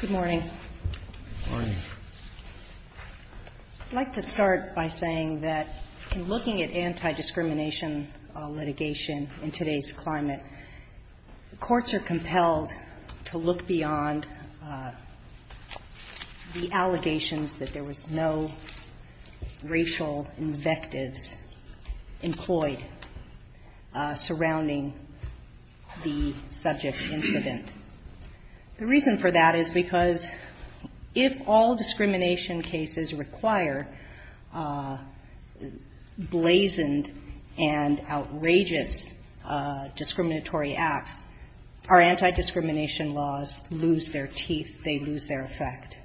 Good morning. I'd like to start by saying that in looking at anti-discrimination litigation in today's climate, courts are compelled to look beyond the allegations that there was no racial invectives employed surrounding the subject incident. The reason for that is because if all discrimination cases require blazoned and outrageous discriminatory acts, our anti-discrimination laws lose their teeth, they lose their effect.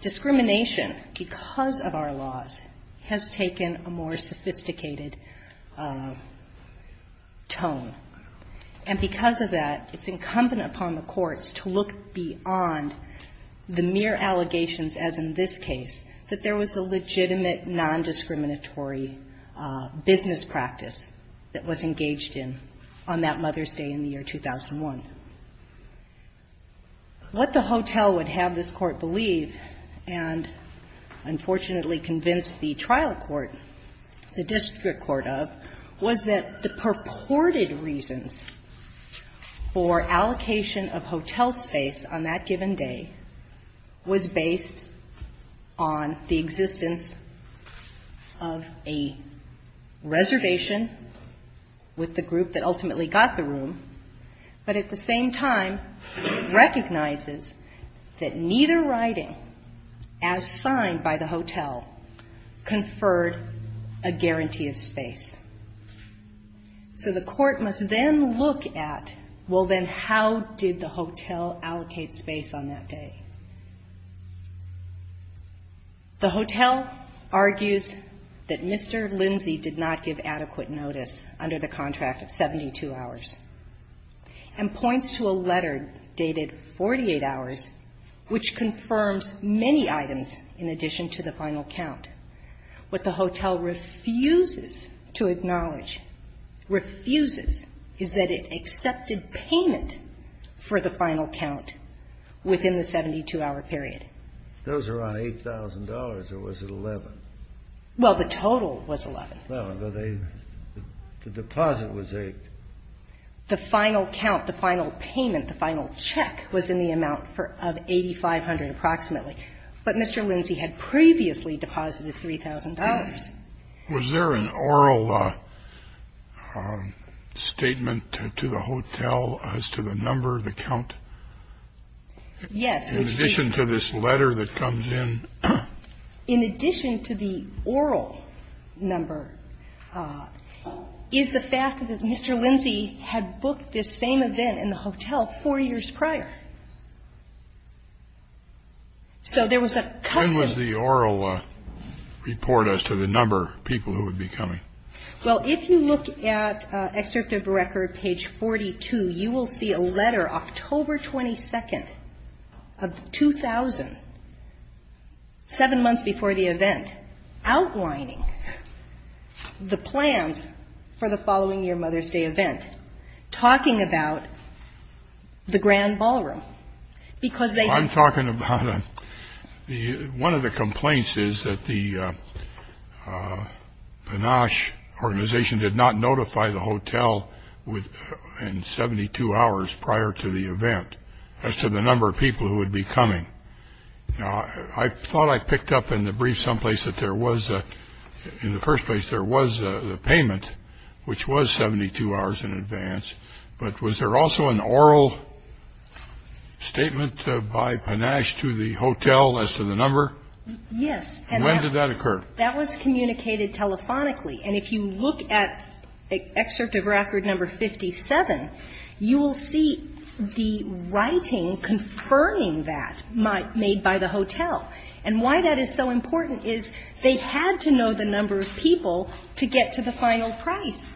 Discrimination, because of our laws, has taken a more sophisticated tone. And because of that, it's incumbent upon the courts to look beyond the mere allegations, as in this case, that there was a legitimate non-discriminatory business practice that was engaged in on that Mother's Day in the year 2001. What the hotel would have this Court believe and, unfortunately, convince the trial court, the district court of, was that the purported reasons for allocation of hotel space on that given day was based on the existence of a reservation with the group that ultimately got the room. But at the same time, recognizes that neither writing, as signed by the hotel, conferred a guarantee of space. So the court must then look at, well, then, how did the hotel allocate space on that day? The hotel argues that Mr. Lindsay did not give adequate notice under the contract of 72 hours, and points to a letter dated 48 hours, which confirms many items in addition to the final count. What the hotel refuses to acknowledge, refuses, is that it accepted payment for the final count within the 72-hour period. Those are on $8,000, or was it $11,000? Well, the total was $11,000. The deposit was $8,000. The final count, the final payment, the final check was in the amount of $8,500 approximately. But Mr. Lindsay had previously deposited $3,000. Was there an oral statement to the hotel as to the number, the count? Yes. In addition to this letter that comes in? In addition to the oral number is the fact that Mr. Lindsay had booked this same event in the hotel four years prior. So there was a custom. When was the oral report as to the number of people who would be coming? Well, if you look at Excerpt of Record, page 42, you will see a letter October 22nd of 2000, seven months before the event, outlining the plans for the following-year Mother's Day event, talking about the Grand Ballroom, because they had been ---- did not notify the hotel in 72 hours prior to the event as to the number of people who would be coming. Now, I thought I picked up in the brief someplace that there was, in the first place, there was the payment, which was 72 hours in advance. But was there also an oral statement by Panache to the hotel as to the number? Yes. When did that occur? That was communicated telephonically. And if you look at Excerpt of Record number 57, you will see the writing confirming that made by the hotel. And why that is so important is they had to know the number of people to get to the final price.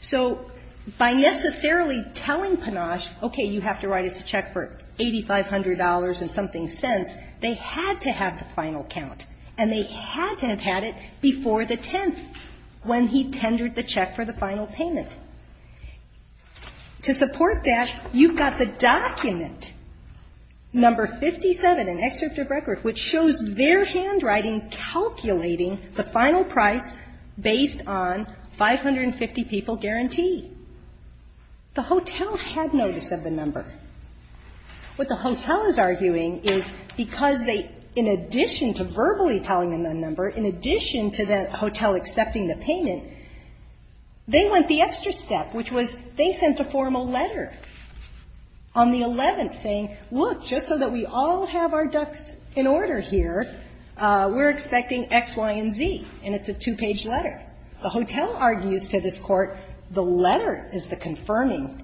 So by necessarily telling Panache, okay, you have to write us a check for $8,500 and something cents, they had to have the final count. And they had to have had it before the 10th, when he tendered the check for the final payment. To support that, you've got the document, number 57 in Excerpt of Record, which shows their handwriting calculating the final price based on 550 people guarantee. The hotel had notice of the number. What the hotel is arguing is because they, in addition to verbally telling them the number, in addition to the hotel accepting the payment, they went the extra step, which was they sent a formal letter on the 11th saying, look, just so that we all have our ducks in order here, we're expecting X, Y, and Z. And it's a two-page letter. The hotel argues to this Court, the letter is the confirming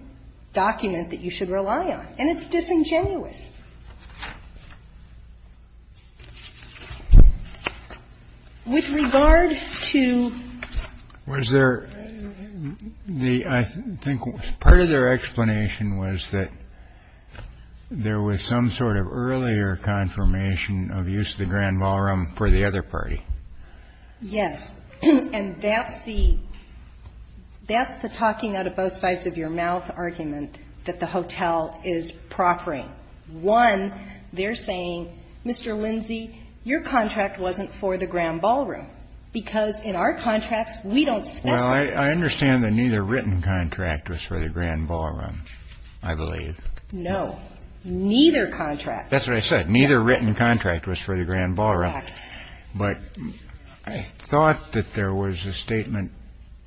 document that you should rely on. And it's disingenuous. With regard to the other explanation was that there was some sort of earlier confirmation of use of the grand ballroom for the other party. And that's the talking out of both sides of your mouth argument that the hotel is proffering. One, they're saying, Mr. Lindsay, your contract wasn't for the grand ballroom, because in our contracts, we don't specify. Well, I understand that neither written contract was for the grand ballroom, I believe. No. Neither contract. That's what I said. Neither written contract was for the grand ballroom. Correct. But I thought that there was a statement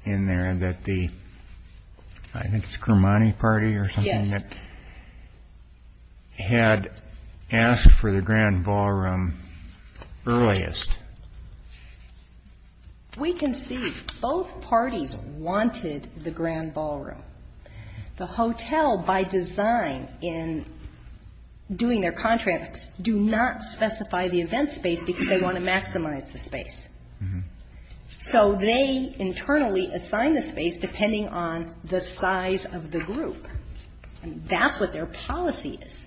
in there that the, I think it's Grimani Party or something? Yes. That had asked for the grand ballroom earliest. We can see both parties wanted the grand ballroom. The hotel, by design in doing their contracts, do not specify the event space because they want to maximize the space. So they internally assign the space depending on the size of the group. And that's what their policy is.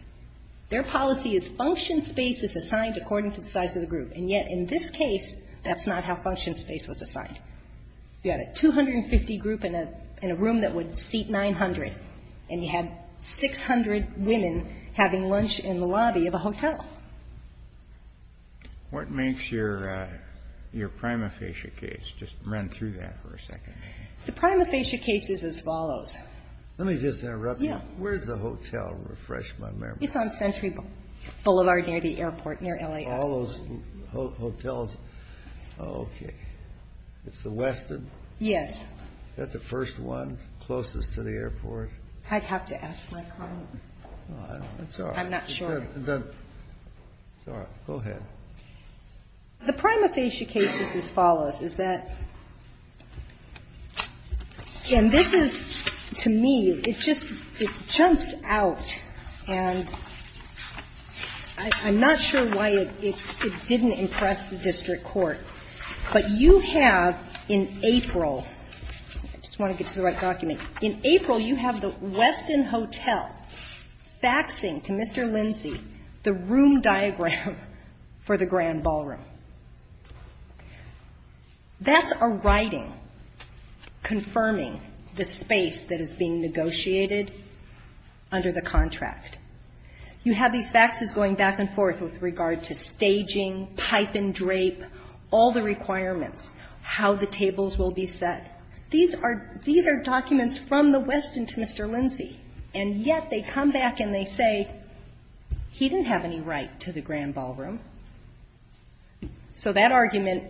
Their policy is function space is assigned according to the size of the group. And yet in this case, that's not how function space was assigned. You had a 250 group in a room that would seat 900, and you had 600 women having lunch in the lobby of a hotel. What makes your prima facie case? Just run through that for a second. The prima facie case is as follows. Let me just interrupt you. Yeah. Where's the hotel? Refresh my memory. It's on Century Boulevard near the airport, near LAX. All those hotels. Okay. It's the western. Yes. Is that the first one closest to the airport? I'd have to ask my client. That's all right. I'm not sure. It's all right. Go ahead. The prima facie case is as follows. And this is, to me, it just, it jumps out, and I'm not sure why it didn't impress the district court, but you have, in April, I just want to get to the right document, in April, you have the western hotel faxing to Mr. Lindsay the room diagram for the grand ballroom. That's a writing confirming the space that is being negotiated under the contract. You have these faxes going back and forth with regard to staging, pipe and drape, all the requirements, how the tables will be set. These are documents from the western to Mr. Lindsay, and yet they come back and they say he didn't have any right to the grand ballroom. So that argument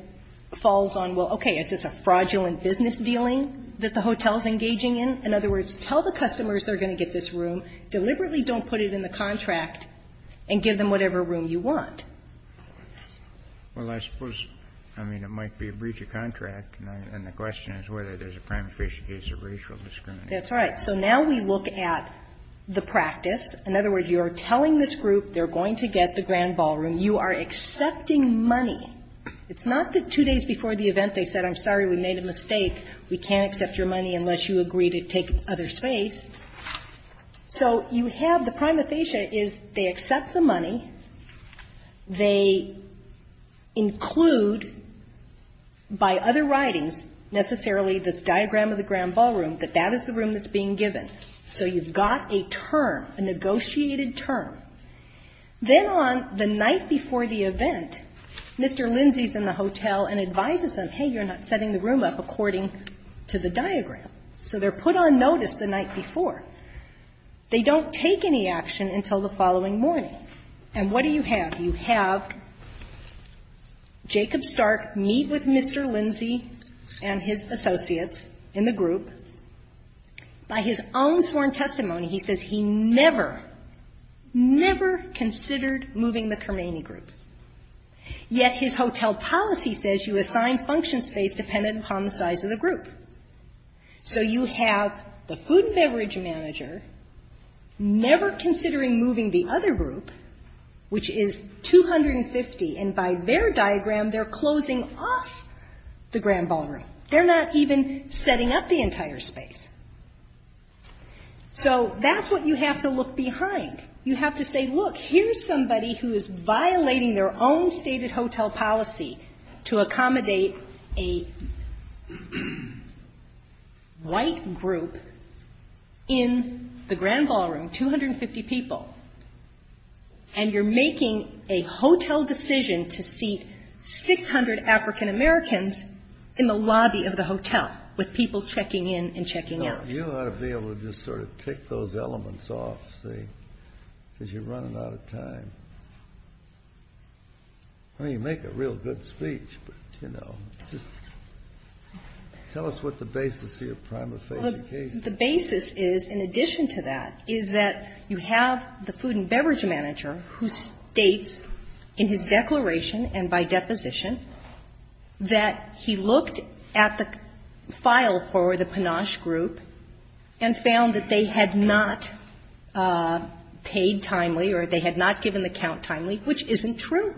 falls on, well, okay, is this a fraudulent business dealing that the hotel is engaging in? In other words, tell the customers they're going to get this room. Deliberately don't put it in the contract and give them whatever room you want. Well, I suppose, I mean, it might be a breach of contract, and the question is whether there's a prima facie case of racial discrimination. That's right. So now we look at the practice. In other words, you're telling this group they're going to get the grand ballroom. You are accepting money. It's not the two days before the event they said, I'm sorry, we made a mistake. We can't accept your money unless you agree to take other space. So you have the prima facie is they accept the money. They include by other writings, necessarily this diagram of the grand ballroom, that that is the room that's being given. So you've got a term, a negotiated term. Then on the night before the event, Mr. Lindsay's in the hotel and advises them, hey, you're not setting the room up according to the diagram. So they're put on notice the night before. They don't take any action until the following morning. And what do you have? You have Jacob Stark meet with Mr. Lindsay and his associates in the group. By his own sworn testimony, he says he never, never considered moving the Cermany group. Yet his hotel policy says you assign function space dependent upon the size of the group. So you have the food and beverage manager never considering moving the other group, which is 250. And by their diagram, they're closing off the grand ballroom. They're not even setting up the entire space. So that's what you have to look behind. You have to say, look, here's somebody who is violating their own stated hotel policy to accommodate a white group in the grand ballroom, 250 people. And you're making a hotel decision to seat 600 African Americans in the lobby of the hotel with people checking in and checking out. You ought to be able to just sort of tick those elements off, see, because you're running out of time. I mean, you make a real good speech, but, you know, just tell us what the basis of your prima facie case is. The basis is, in addition to that, is that you have the food and beverage manager, who states in his declaration and by deposition that he looked at the file for the Panache group and found that they had not paid timely or they had not given the count timely, which isn't true.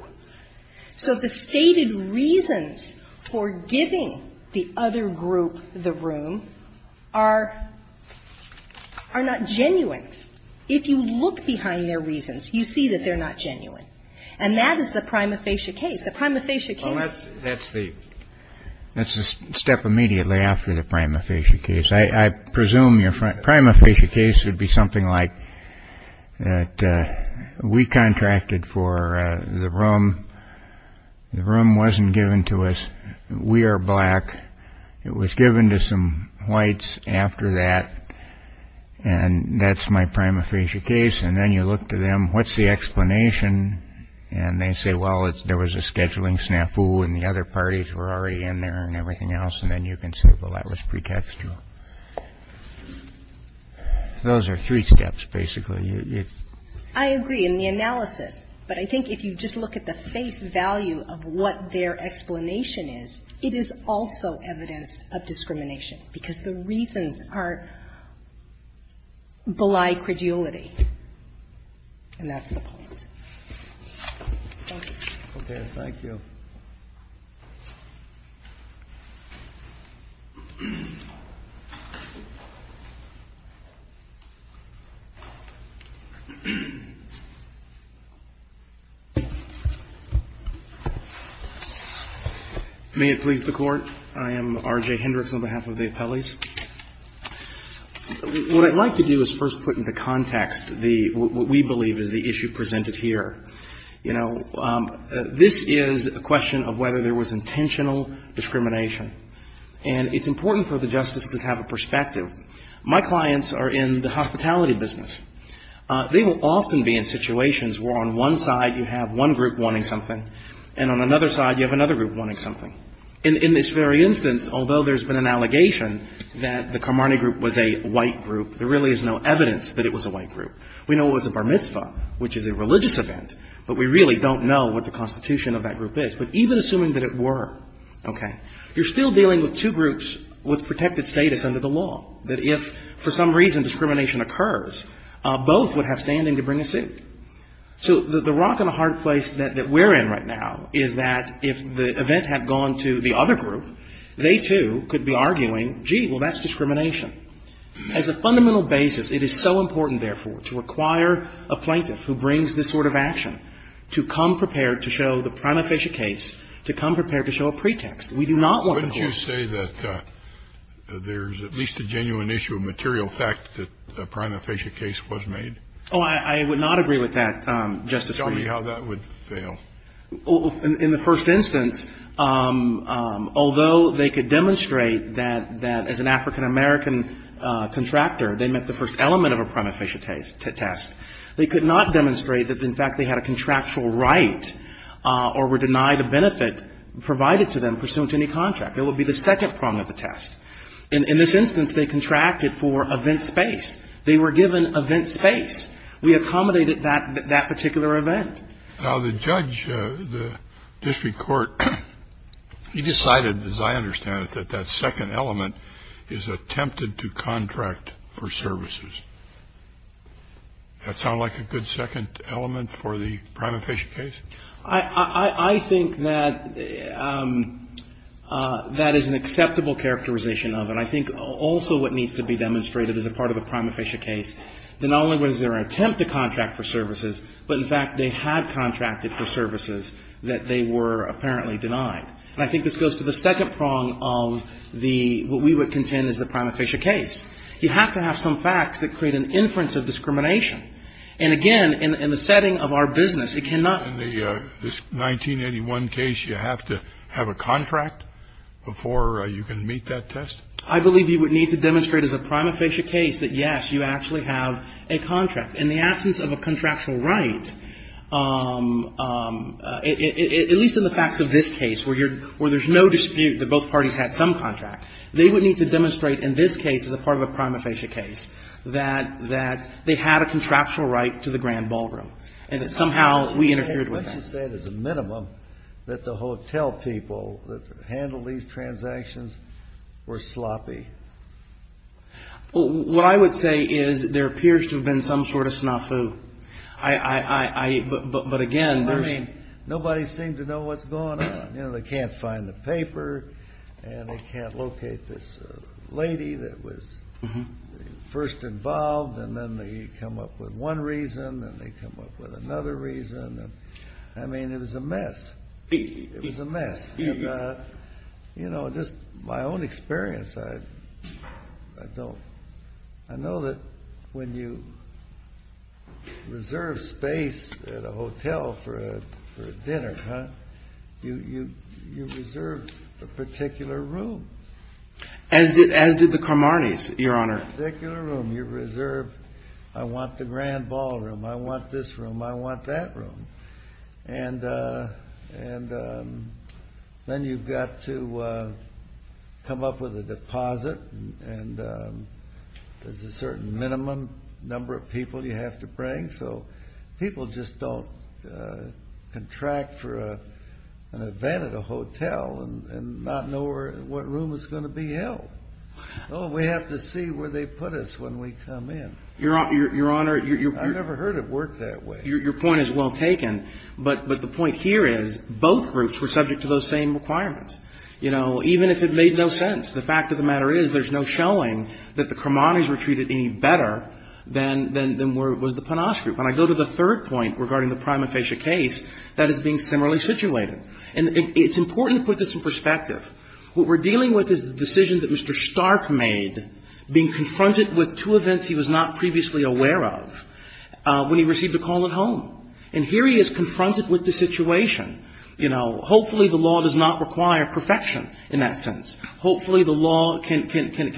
So the stated reasons for giving the other group the room are not genuine. If you look behind their reasons, you see that they're not genuine. And that is the prima facie case. The prima facie case isn't genuine. Kennedy. Well, that's the step immediately after the prima facie case. I presume your prima facie case would be something like that. We contracted for the room. The room wasn't given to us. We are black. It was given to some whites after that. And that's my prima facie case. And then you look to them. What's the explanation? And they say, well, there was a scheduling snafu and the other parties were already in there and everything else. And then you can say, well, that was pretextual. Those are three steps, basically. I agree in the analysis. But I think if you just look at the face value of what their explanation is, it is also evidence of discrimination, because the reasons are beli credulity. And that's the point. Thank you. Okay. Thank you. May it please the Court. I am R.J. Hendricks on behalf of the appellees. What I'd like to do is first put into context the what we believe is the issue presented here. You know, this is a question of whether there was intentional discrimination. And it's important for the Justice to have a perspective. My clients are in the hospitality business. They will often be in situations where on one side you have one group wanting something and on another side you have another group wanting something. In this very instance, although there's been an allegation that the Carmarnie group was a white group, there really is no evidence that it was a white group. We know it was a bar mitzvah, which is a religious event, but we really don't know what the constitution of that group is. But even assuming that it were, okay, you're still dealing with two groups with protected status under the law, that if for some reason discrimination occurs, both would have standing to bring a suit. So the rock and a hard place that we're in right now is that if the event had gone to the other group, they, too, could be arguing, gee, well, that's discrimination. As a fundamental basis, it is so important, therefore, to require a plaintiff who brings this sort of action to come prepared to show the prima facie case, to come prepared to show a pretext. We do not want the court to do that. Scalia. Wouldn't you say that there's at least a genuine issue of material fact that a prima facie case was made? Gershengorn Oh, I would not agree with that, Justice Breyer. Scalia. Just tell me how that would fail. Gershengorn In the first instance, although they could demonstrate that as an African American contractor, they met the first element of a prima facie test, they could not demonstrate that, in fact, they had a contractual right or were denied a benefit provided to them pursuant to any contract. It would be the second prong of the test. In this instance, they contracted for event space. They were given event space. We accommodated that particular event. Scalia. Now, the judge, the district court, he decided, as I understand it, that that second element is attempted to contract for services. That sound like a good second element for the prima facie case? Gershengorn I think that that is an acceptable characterization of it. I think also what needs to be demonstrated as a part of a prima facie case, that not services that they were apparently denied. And I think this goes to the second prong of the, what we would contend is the prima facie case. You have to have some facts that create an inference of discrimination. And, again, in the setting of our business, it cannot be a 1981 case, you have to have a contract before you can meet that test? I believe you would need to demonstrate as a prima facie case that, yes, you actually have a contract. In the absence of a contractual right, at least in the facts of this case where there's no dispute that both parties had some contract, they would need to demonstrate in this case as a part of a prima facie case that they had a contractual right to the Grand Ballroom. And that somehow we interfered with that. Kennedy Let's just say it as a minimum that the hotel people that handled these transactions were sloppy. Well, what I would say is there appears to have been some sort of snafu. But, again, there's... Nobody seemed to know what's going on. You know, they can't find the paper, and they can't locate this lady that was first involved, and then they come up with one reason, and they come up with another reason. I mean, it was a mess. It was a mess. And, you know, just my own experience, I don't... I know that when you reserve space at a hotel for a dinner, you reserve a particular room. As did the Carmarnes, Your Honor. A particular room. You reserve, I want the Grand Ballroom. I want this room. I want that room. And then you've got to come up with a deposit, and there's a certain minimum number of people you have to bring. So people just don't contract for an event at a hotel and not know what room is going to be held. Oh, we have to see where they put us when we come in. I've never heard it work that way. Your point is well taken, but the point here is both groups were subject to those same requirements. You know, even if it made no sense, the fact of the matter is there's no showing that the Carmarnes were treated any better than was the Panoz group. When I go to the third point regarding the prima facie case, that is being similarly situated. And it's important to put this in perspective. What we're dealing with is the decision that Mr. Stark made, being confronted with two events he was not previously aware of when he received a call at home. And here he is confronted with the situation. You know, hopefully the law does not require perfection in that sense. Hopefully the law can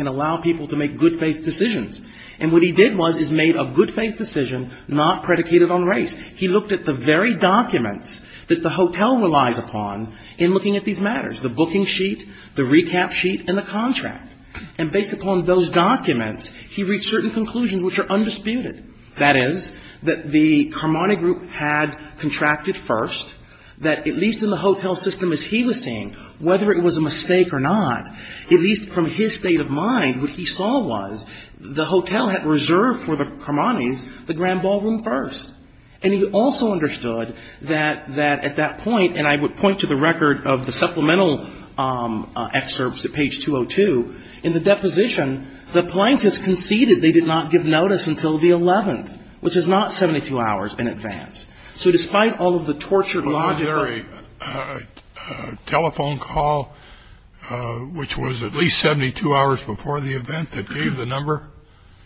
allow people to make good faith decisions. And what he did was he made a good faith decision not predicated on race. He looked at the very documents that the hotel relies upon in looking at these matters, the booking sheet, the recap sheet, and the contract. And based upon those documents, he reached certain conclusions which are undisputed. That is, that the Carmarne group had contracted first, that at least in the hotel system as he was seeing, whether it was a mistake or not, at least from his state of mind, what he saw was the hotel had reserved for the Carmarnes the grand ballroom first. And he also understood that at that point, and I would point to the record of the deposition, the plaintiffs conceded they did not give notice until the 11th, which is not 72 hours in advance. So despite all of the tortured logic... Was there a telephone call which was at least 72 hours before the event that gave the number?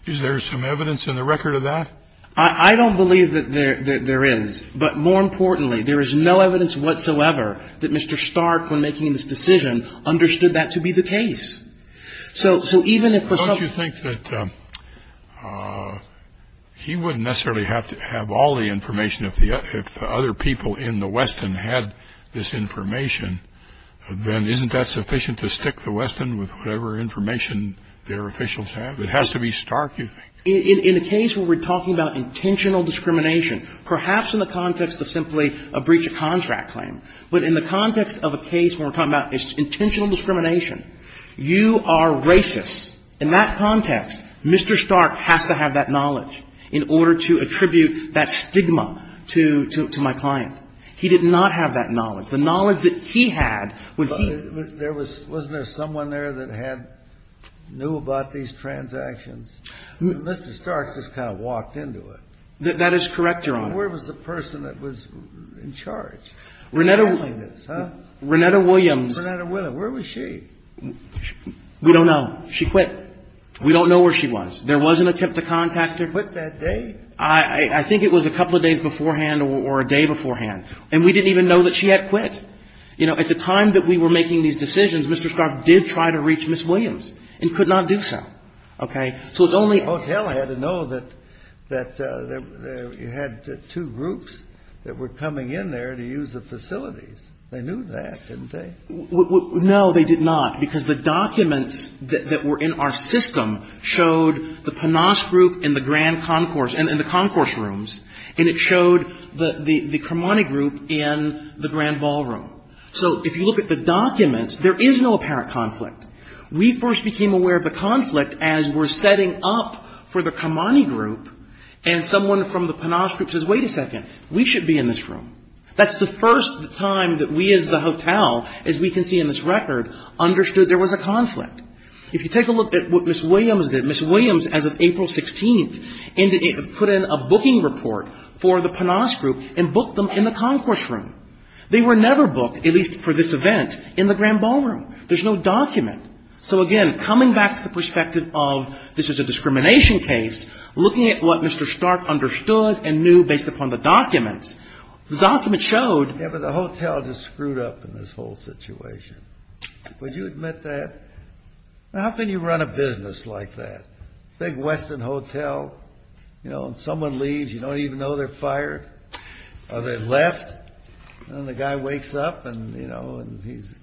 Is there some evidence in the record of that? I don't believe that there is. But more importantly, there is no evidence whatsoever that Mr. Stark, when making this decision, understood that to be the case. So even if for some... Don't you think that he wouldn't necessarily have to have all the information if the other people in the Weston had this information, then isn't that sufficient to stick the Weston with whatever information their officials have? It has to be Stark, you think. In a case where we're talking about intentional discrimination, perhaps in the context of simply a breach of contract claim. But in the context of a case where we're talking about intentional discrimination, you are racist. In that context, Mr. Stark has to have that knowledge in order to attribute that stigma to my client. He did not have that knowledge. The knowledge that he had when he... Wasn't there someone there that knew about these transactions? Mr. Stark just kind of walked into it. That is correct, Your Honor. Where was the person that was in charge? Renetta... Renetta Williams. Renetta Williams. Where was she? We don't know. She quit. We don't know where she was. There was an attempt to contact her. Quit that day? I think it was a couple of days beforehand or a day beforehand. And we didn't even know that she had quit. You know, at the time that we were making these decisions, Mr. Stark did try to reach Ms. Williams and could not do so. Okay? So it's only... Hotel had to know that you had two groups that were coming in there to use the facilities. They knew that, didn't they? No, they did not, because the documents that were in our system showed the Panas group in the Grand Concourse and the concourse rooms, and it showed the Cremonti group in the Grand Ballroom. So if you look at the documents, there is no apparent conflict. We first became aware of a conflict as we're setting up for the Cremonti group, and someone from the Panas group says, wait a second, we should be in this room. That's the first time that we as the hotel, as we can see in this record, understood there was a conflict. If you take a look at what Ms. Williams did, Ms. Williams, as of April 16th, put in a booking report for the Panas group and booked them in the concourse room. They were never booked, at least for this event, in the Grand Ballroom. There's no document. So, again, coming back to the perspective of this is a discrimination case, looking at what Mr. Stark understood and knew based upon the documents, the documents showed the hotel just screwed up in this whole situation. Would you admit that? How can you run a business like that? Big Western Hotel, you know, and someone leaves. You don't even know they're fired or they left. And the guy wakes up and, you know, and he's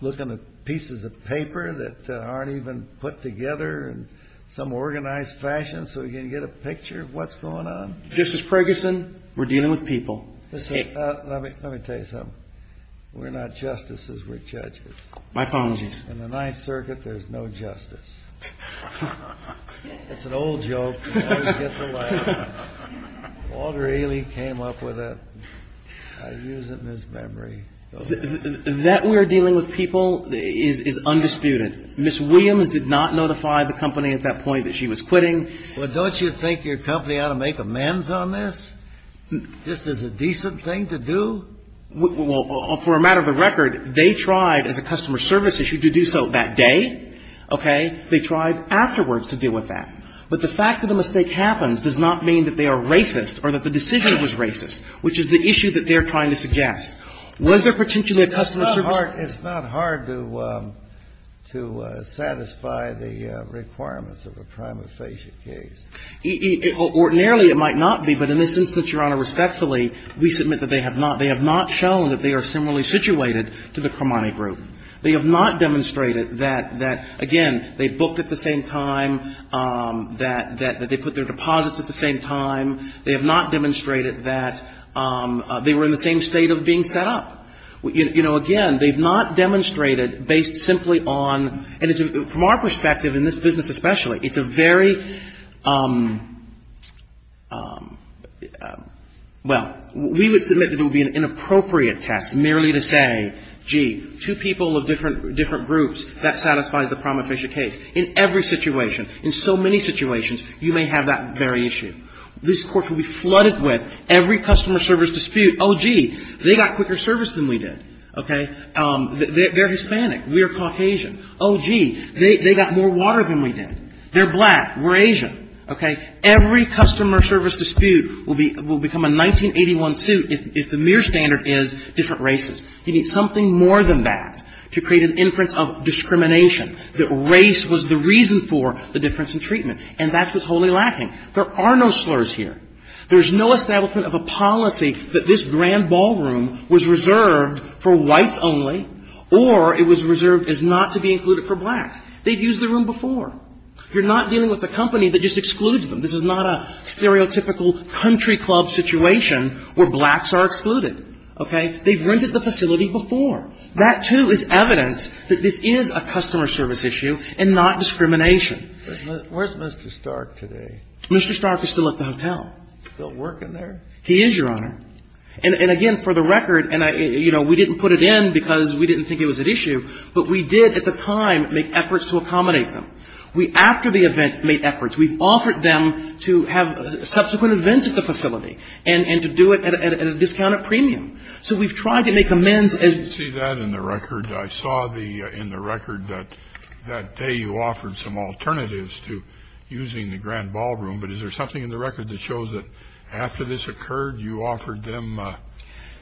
looking at pieces of paper that aren't even put together in some organized fashion so he can get a picture of what's going on. Justice Ferguson, we're dealing with people. Let me tell you something. We're not justices, we're judges. My apologies. In the Ninth Circuit, there's no justice. It's an old joke. Walter Ailey came up with it. I use it in his memory. That we're dealing with people is undisputed. Ms. Williams did not notify the company at that point that she was quitting. Well, don't you think your company ought to make amends on this? Just as a decent thing to do? Well, for a matter of the record, they tried as a customer service issue to do so that day. Okay? They tried afterwards to deal with that. But the fact that a mistake happens does not mean that they are racist or that the decision was racist, which is the issue that they're trying to suggest. Was there potentially a customer service issue? It's not hard to satisfy the requirements of a prima facie case. Ordinarily, it might not be, but in this instance, Your Honor, respectfully, we submit that they have not shown that they are similarly situated to the Cremani group. They have not demonstrated that, again, they booked at the same time, that they put their deposits at the same time. They have not demonstrated that they were in the same state of being set up. You know, again, they've not demonstrated, based simply on, and from our perspective in this business especially, it's a very, well, we would submit that it would be an inappropriate test merely to say, gee, two people of different groups, that satisfies the prima facie case. In every situation, in so many situations, you may have that very issue. This Court will be flooded with every customer service dispute, oh, gee, they got quicker service than we did. Okay? They're Hispanic. We're Caucasian. Oh, gee, they got more water than we did. They're black. We're Asian. Okay? Every customer service dispute will become a 1981 suit if the mere standard is different races. You need something more than that to create an inference of discrimination, that race was the reason for the difference in treatment. And that's what's wholly lacking. There are no slurs here. There's no establishment of a policy that this grand ballroom was reserved for whites only or it was reserved as not to be included for blacks. They've used the room before. You're not dealing with a company that just excludes them. This is not a stereotypical country club situation where blacks are excluded. Okay? They've rented the facility before. That, too, is evidence that this is a customer service issue and not discrimination. But where's Mr. Stark today? Mr. Stark is still at the hotel. Still working there? He is, Your Honor. And again, for the record, and, you know, we didn't put it in because we didn't think it was at issue, but we did at the time make efforts to accommodate them. We, after the event, made efforts. So we've tried to make amends. See that in the record. I saw in the record that that day you offered some alternatives to using the grand ballroom, but is there something in the record that shows that after this occurred, you offered them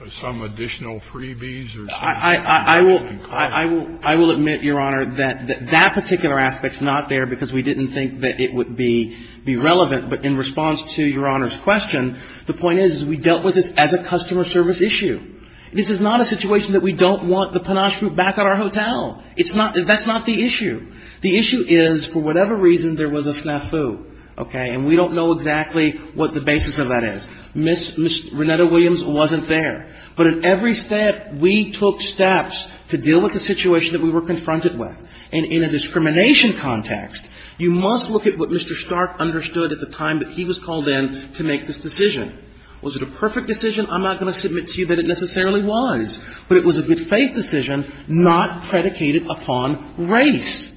some additional freebies or something? I will admit, Your Honor, that that particular aspect is not there because we didn't think that it would be relevant. But in response to Your Honor's question, the point is we dealt with this as a customer service issue. This is not a situation that we don't want the panache group back at our hotel. That's not the issue. The issue is, for whatever reason, there was a snafu. Okay? And we don't know exactly what the basis of that is. Ms. Renetta Williams wasn't there. But at every step, we took steps to deal with the situation that we were confronted with. And in a discrimination context, you must look at what Mr. Stark understood at the time that he was called in to make this decision. Was it a perfect decision? I'm not going to submit to you that it necessarily was. But it was a good faith decision not predicated upon race.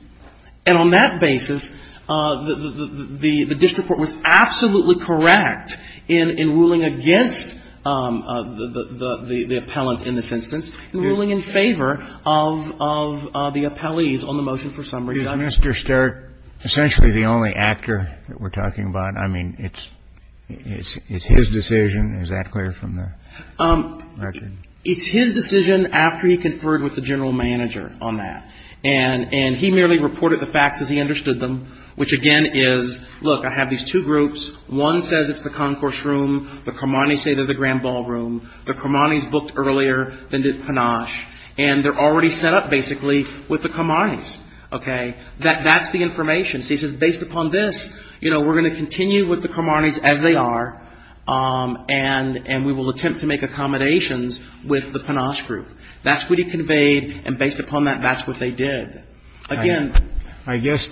And on that basis, the district court was absolutely correct in ruling against the appellant in this instance and ruling in favor of the appellees on the motion for summary. Did Mr. Stark essentially the only actor that we're talking about? I mean, it's his decision. Is that clear from the record? It's his decision after he conferred with the general manager on that. And he merely reported the facts as he understood them, which again is, look, I have these two groups. One says it's the concourse room. The Karmanis say they're the grand ballroom. The Karmanis booked earlier than did Panache. And they're already set up basically with the Karmanis. Okay? That's the information. So he says based upon this, you know, we're going to continue with the Karmanis as they are. And we will attempt to make accommodations with the Panache group. That's what he conveyed. And based upon that, that's what they did. Again. I guess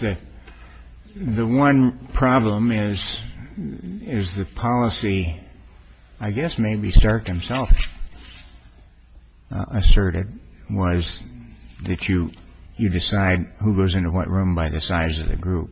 the one problem is, is the policy, I guess maybe Stark himself asserted, was that you decide who goes into what room by the size of the group.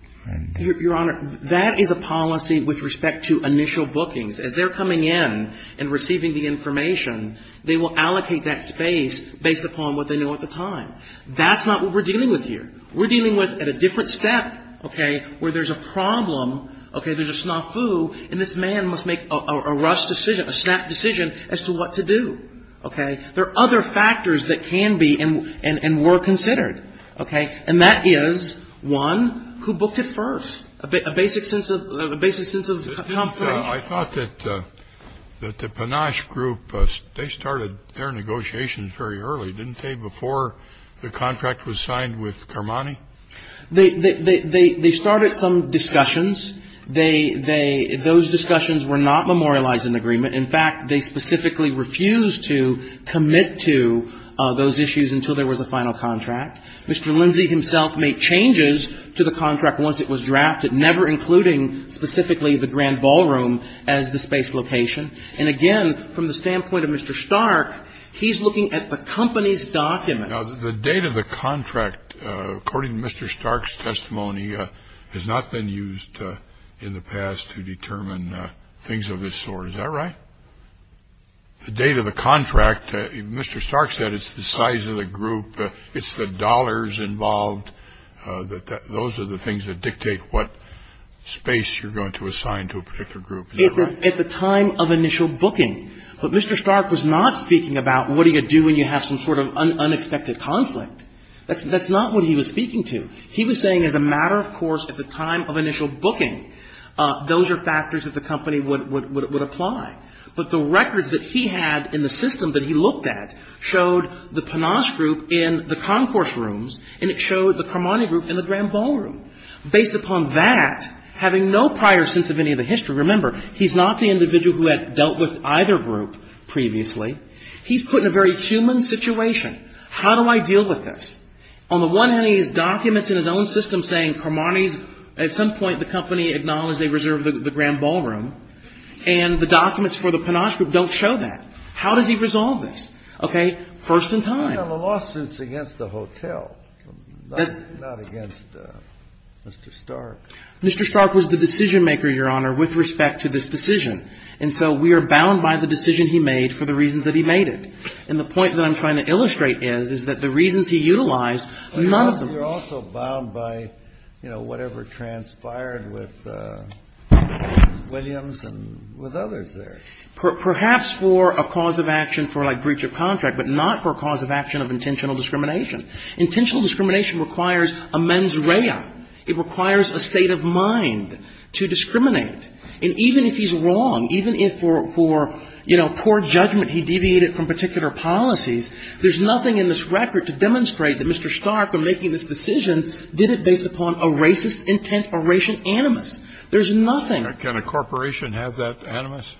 Your Honor, that is a policy with respect to initial bookings. As they're coming in and receiving the information, they will allocate that space based upon what they know at the time. That's not what we're dealing with here. We're dealing with at a different step, okay, where there's a problem, okay, there's a snafu, and this man must make a rushed decision, a snap decision as to what to do. Okay? There are other factors that can be and were considered. Okay? And that is one who booked it first, a basic sense of confirmation. I thought that the Panache group, they started their negotiations very early, didn't they, before the contract was signed with Carmani? They started some discussions. Those discussions were not memorialized in the agreement. In fact, they specifically refused to commit to those issues until there was a final contract. Mr. Lindsey himself made changes to the contract once it was drafted, never including specifically the Grand Ballroom as the space location. And, again, from the standpoint of Mr. Stark, he's looking at the company's documents. Now, the date of the contract, according to Mr. Stark's testimony, has not been used in the past to determine things of this sort. Is that right? The date of the contract, Mr. Stark said it's the size of the group, it's the dollars involved, that those are the things that dictate what space you're going to assign to a particular group. Is that right? At the time of initial booking. But Mr. Stark was not speaking about what do you do when you have some sort of unexpected conflict. That's not what he was speaking to. He was saying as a matter of course at the time of initial booking, those are factors that the company would apply. But the records that he had in the system that he looked at showed the Panache group in the concourse rooms, and it showed the Carmani group in the Grand Ballroom. Based upon that, having no prior sense of any of the history, remember, he's not the individual who had dealt with either group previously. He's put in a very human situation. How do I deal with this? On the one hand, he has documents in his own system saying Carmani's, at some point the company acknowledged they reserved the Grand Ballroom, and the documents for the Panache group don't show that. How does he resolve this? Okay. First and time. And then the lawsuit's against the hotel, not against Mr. Stark. Mr. Stark was the decision-maker, Your Honor, with respect to this decision. And so we are bound by the decision he made for the reasons that he made it. And the point that I'm trying to illustrate is, is that the reasons he utilized, none of them were used. But you're also bound by, you know, whatever transpired with Williams and with others there. Perhaps for a cause of action for, like, breach of contract, but not for a cause of action of intentional discrimination. Intentional discrimination requires a mens rea. It requires a state of mind to discriminate. And even if he's wrong, even if for, you know, poor judgment he deviated from particular policies, there's nothing in this record to demonstrate that Mr. Stark, in making this decision, did it based upon a racist intent, a racial animus. There's nothing. Can a corporation have that animus?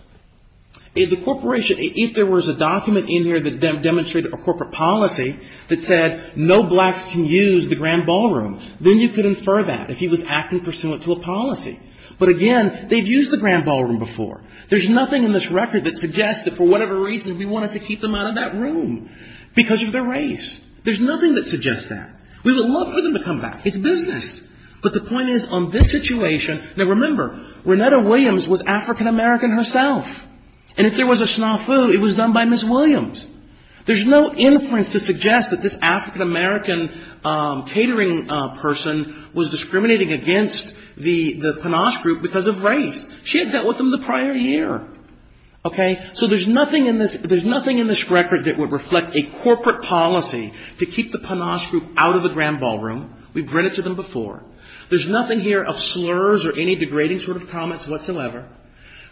The corporation, if there was a document in here that demonstrated a corporate policy that said no blacks can use the grand ballroom, then you could infer that if he was acting pursuant to a policy. But again, they've used the grand ballroom before. There's nothing in this record that suggests that for whatever reason we wanted to keep them out of that room because of their race. There's nothing that suggests that. We would love for them to come back. It's business. But the point is, on this situation, now, remember, Renetta Williams was African-American herself. And if there was a snafu, it was done by Ms. Williams. There's no inference to suggest that this African-American catering person was discriminating against the Panache group because of race. She had dealt with them the prior year. Okay? So there's nothing in this record that would reflect a corporate policy to keep the Panache group out of the grand ballroom. We've read it to them before. There's nothing here of slurs or any degrading sort of comments whatsoever.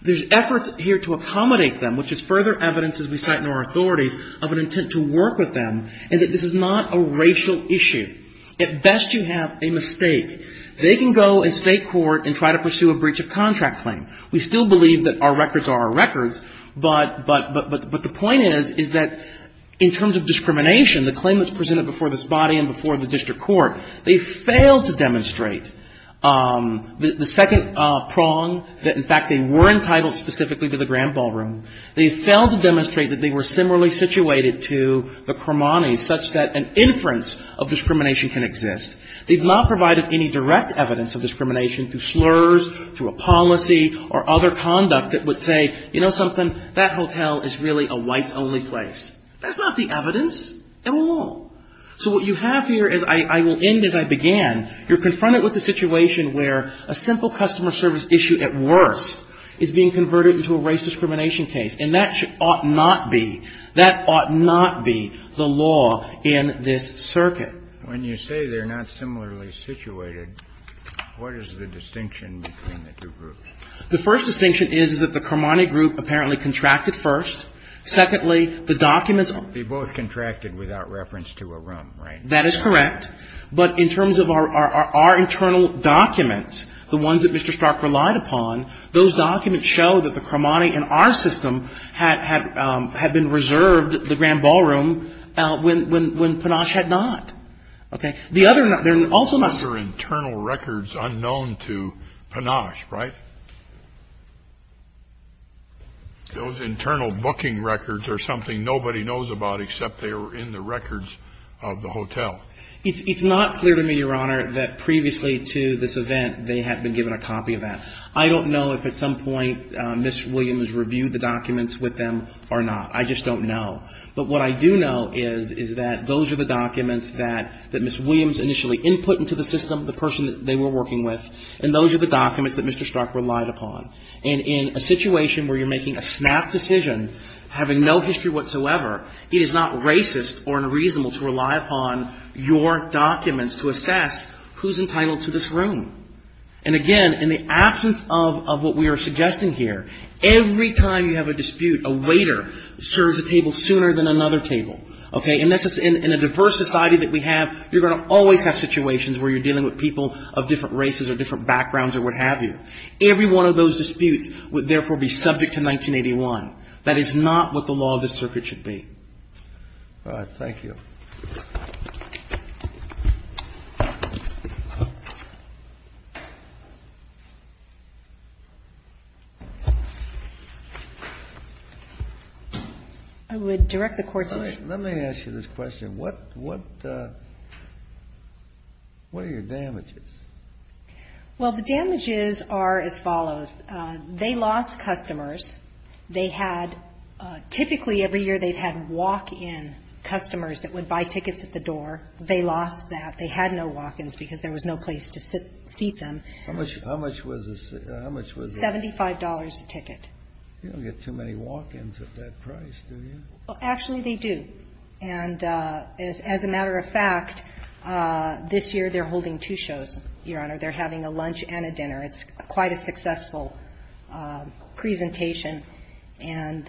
There's efforts here to accommodate them, which is further evidence, as we cite in our authorities, of an intent to work with them, and that this is not a racial issue. At best, you have a mistake. They can go and state court and try to pursue a breach of contract claim. We still believe that our records are our records. But the point is, is that in terms of discrimination, the claim that's presented before this body and before the district court, they failed to demonstrate the second prong, that in fact they were entitled specifically to the grand ballroom. They failed to demonstrate that they were similarly situated to the Cremonies, such that an inference of discrimination can exist. They've not provided any direct evidence of discrimination through slurs, through a policy, or other conduct that would say, you know something, that hotel is really a whites-only place. That's not the evidence at all. So what you have here is, I will end as I began, you're confronted with a situation where a simple customer service issue at worst is being converted into a race discrimination case, and that ought not be, that ought not be the law in this circuit. When you say they're not similarly situated, what is the distinction between the two groups? The first distinction is, is that the Cremonies group apparently contracted first. Secondly, the documents are They both contracted without reference to a room, right? That is correct. But in terms of our internal documents, the ones that Mr. Stark relied upon, those documents show that the Cremonies in our system had been reserved the grand ballroom when Panache had not. Okay. The other, they're also not Those are internal records unknown to Panache, right? Those internal booking records are something nobody knows about except they are in the records of the hotel. It's not clear to me, Your Honor, that previously to this event they had been given a copy of that. I don't know if at some point Ms. Williams reviewed the documents with them or not. I just don't know. But what I do know is, is that those are the documents that Ms. Williams initially input into the system, the person that they were working with, and those are the documents that Mr. Stark relied upon. And in a situation where you're making a snap decision, having no history whatsoever, it is not racist or unreasonable to rely upon your documents to assess who's entitled to this room. And again, in the absence of what we are suggesting here, every time you have a dispute, a waiter serves a table sooner than another table. Okay? In a diverse society that we have, you're going to always have situations where you're dealing with people of different races or different backgrounds or what have you. Every one of those disputes would therefore be subject to 1981. That is not what the law of the circuit should be. All right. Thank you. I would direct the Court's attention. Let me ask you this question. What are your damages? Well, the damages are as follows. They lost customers. They had typically every year they've had walk-in customers that would buy tickets at the door. They lost that. They had no walk-ins because there was no place to seat them. How much was a seat? How much was a seat? $75 a ticket. You don't get too many walk-ins at that price, do you? Well, actually, they do. And as a matter of fact, this year they're holding two shows, Your Honor. They're having a lunch and a dinner. It's quite a successful presentation. And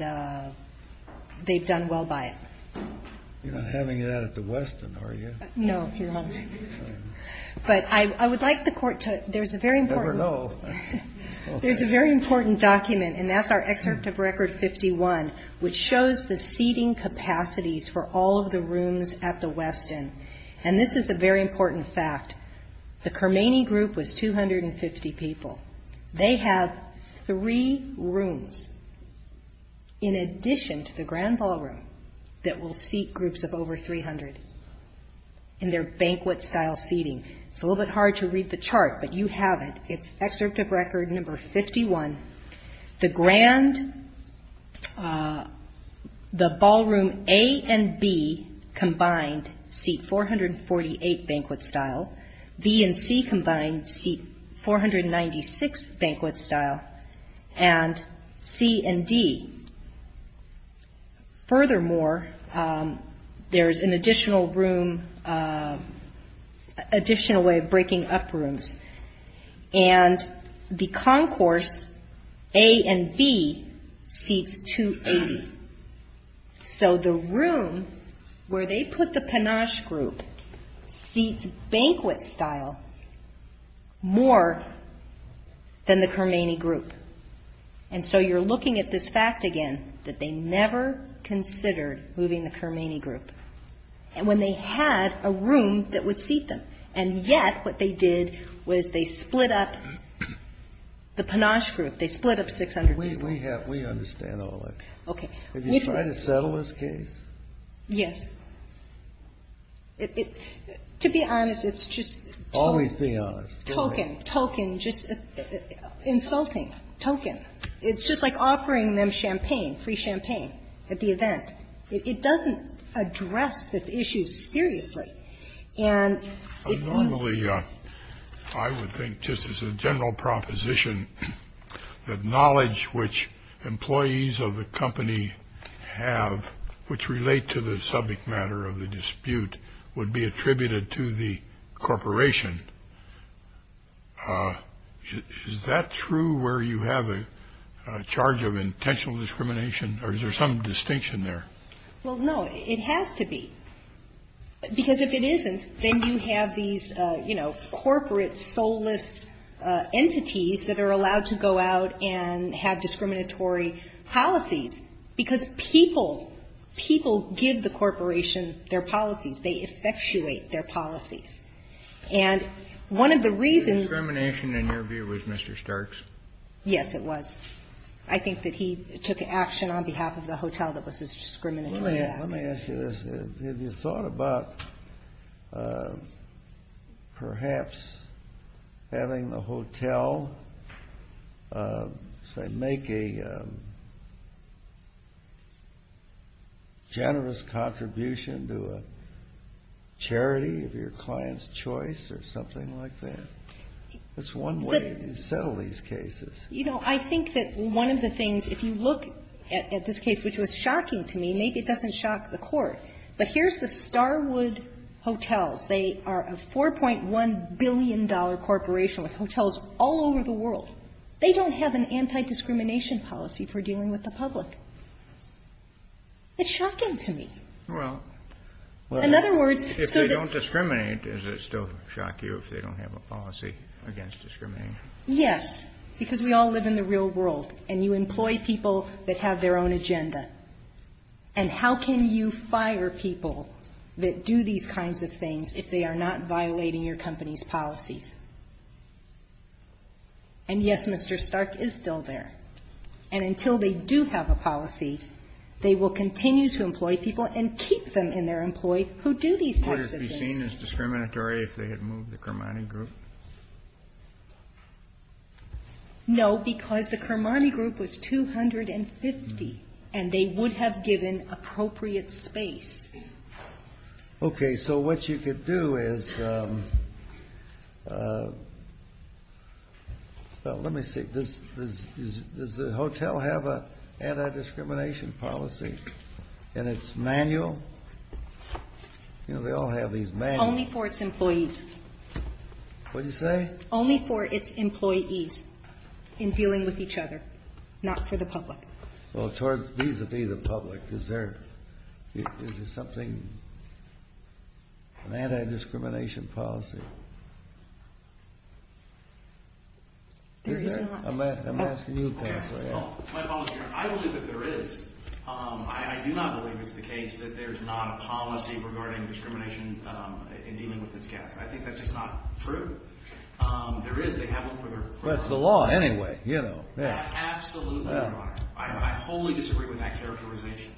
they've done well by it. You're not having that at the Westin, are you? No, Your Honor. But I would like the Court to, there's a very important. Never know. There's a very important document, and that's our excerpt of Record 51, which shows the seating capacities for all of the rooms at the Westin. And this is a very important fact. The Kermany group was 250 people. They have three rooms, in addition to the Grand Ballroom, that will seat groups of over 300 in their banquet-style seating. It's a little bit hard to read the chart, but you have it. It's Excerpt of Record Number 51. The Grand, the Ballroom A and B combined seat 448 banquet-style. B and C combined seat 496 banquet-style. And C and D. Furthermore, there's an additional room, additional way of breaking up rooms. And the Concourse A and B seats 280. So the room where they put the Panache group seats banquet-style more than the Kermany group. And so you're looking at this fact again, that they never considered moving the Kermany group, when they had a room that would seat them. And yet what they did was they split up the Panache group. They split up 600 people. We understand all that. Okay. Have you tried to settle this case? Yes. To be honest, it's just token. Always be honest. Token, token, just insulting. Token. It's just like offering them champagne, free champagne, at the event. It doesn't address this issue seriously. Normally, I would think, just as a general proposition, that knowledge which employees of the company have, which relate to the subject matter of the dispute, would be attributed to the corporation. Is that true where you have a charge of intentional discrimination? Or is there some distinction there? Well, no. It has to be. Because if it isn't, then you have these, you know, corporate soulless entities that are allowed to go out and have discriminatory policies. Because people, people give the corporation their policies. They effectuate their policies. And one of the reasons ---- The discrimination, in your view, was Mr. Stark's? Yes, it was. I think that he took action on behalf of the hotel that was discriminatory. Let me ask you this. Have you thought about perhaps having the hotel, say, make a generous contribution to a charity of your client's choice or something like that? That's one way you settle these cases. You know, I think that one of the things, if you look at this case, which was shocking to me, maybe it doesn't shock the Court, but here's the Starwood Hotels. They are a $4.1 billion corporation with hotels all over the world. They don't have an anti-discrimination policy for dealing with the public. It's shocking to me. Well, if they don't discriminate, is it still shocking if they don't have a policy against discriminating? Yes. Because we all live in the real world, and you employ people that have their own agenda. And how can you fire people that do these kinds of things if they are not violating your company's policies? And, yes, Mr. Stark is still there. And until they do have a policy, they will continue to employ people and keep them in their employ who do these types of things. So would it be seen as discriminatory if they had moved the Carmani group? No, because the Carmani group was 250, and they would have given appropriate space. Okay. So what you could do is let me see. Does the hotel have an anti-discrimination policy in its manual? They all have these manuals. Only for its employees. What did you say? Only for its employees in dealing with each other, not for the public. Well, vis-a-vis the public, is there something, an anti-discrimination policy? There is not. I'm asking you, Counselor. I believe that there is. I do not believe it's the case that there's not a policy regarding discrimination in dealing with this guest. I think that's just not true. There is. They have one for their personal. Well, it's the law anyway, you know. Absolutely, Your Honor. I wholly disagree with that characterization.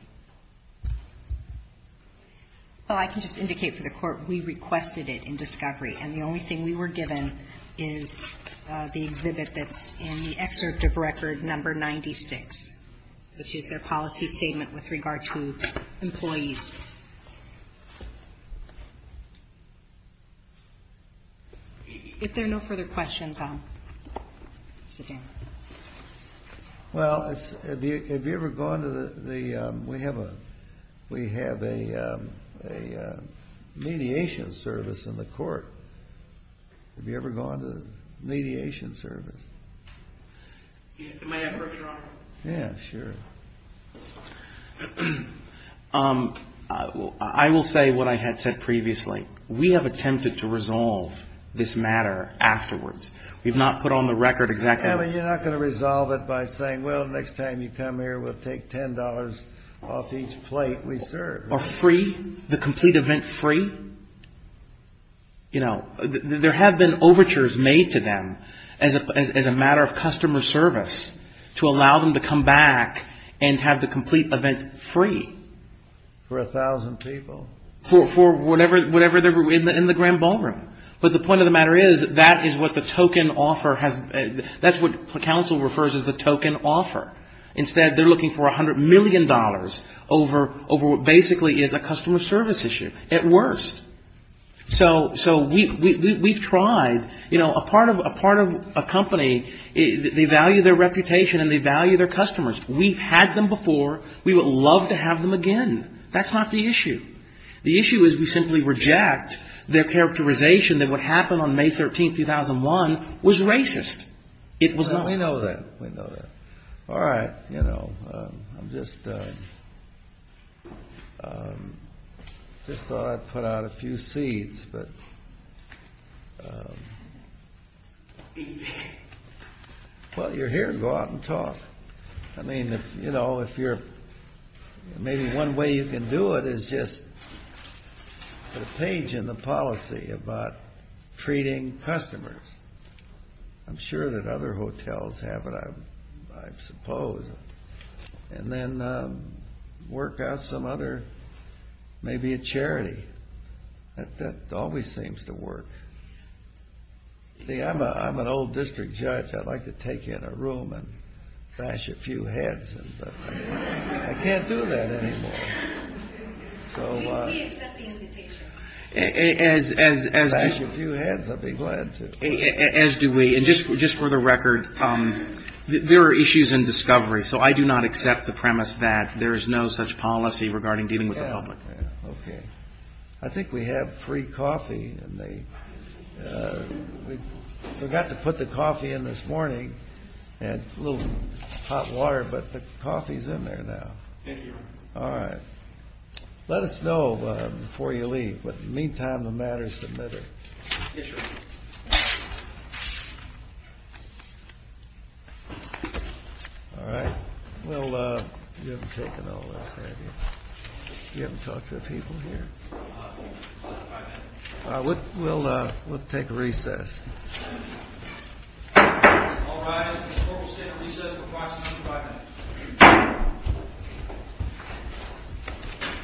Well, I can just indicate for the Court, we requested it in discovery. And the only thing we were given is the exhibit that's in the excerpt of record number 96, which is their policy statement with regard to employees. If there are no further questions, I'll sit down. Well, have you ever gone to the ‑‑ we have a mediation service in the court. Have you ever gone to a mediation service? May I interrupt, Your Honor? Yeah, sure. I will say what I had said previously. We have attempted to resolve this matter afterwards. We have not put on the record exactly. Well, you're not going to resolve it by saying, well, next time you come here, we'll take $10 off each plate we serve. Or free, the complete event free. You know, there have been overtures made to them as a matter of customer service to allow them to come back and have the complete event free. For 1,000 people? For whatever they're ‑‑ in the grand ballroom. But the point of the matter is, that is what the token offer has ‑‑ that's what counsel refers as the token offer. Instead, they're looking for $100 million over what basically is a customer service issue. At worst. So we've tried, you know, a part of a company, they value their reputation and they value their customers. We've had them before. We would love to have them again. That's not the issue. The issue is we simply reject their characterization that what happened on May 13, 2001, was racist. It was not. We know that. We know that. All right. You know, I'm just ‑‑ just thought I'd put out a few seeds. But, well, you're here. Go out and talk. I mean, you know, if you're ‑‑ maybe one way you can do it is just put a page in the policy about treating customers. I'm sure that other hotels have it, I suppose. And then work out some other ‑‑ maybe a charity. That always seems to work. See, I'm an old district judge. I'd like to take in a room and bash a few heads. But I can't do that anymore. We accept the invitation. As do we. And just for the record, there are issues in discovery. So I do not accept the premise that there is no such policy regarding dealing with the public. Okay. I think we have free coffee. We forgot to put the coffee in this morning. And a little hot water. But the coffee is in there now. Thank you. All right. Let us know before you leave. But in the meantime, the matter is submitted. Yes, sir. All right. Well, you haven't taken all this, have you? You haven't talked to the people here? We'll take a recess. All rise. This court will stand at recess for approximately five minutes.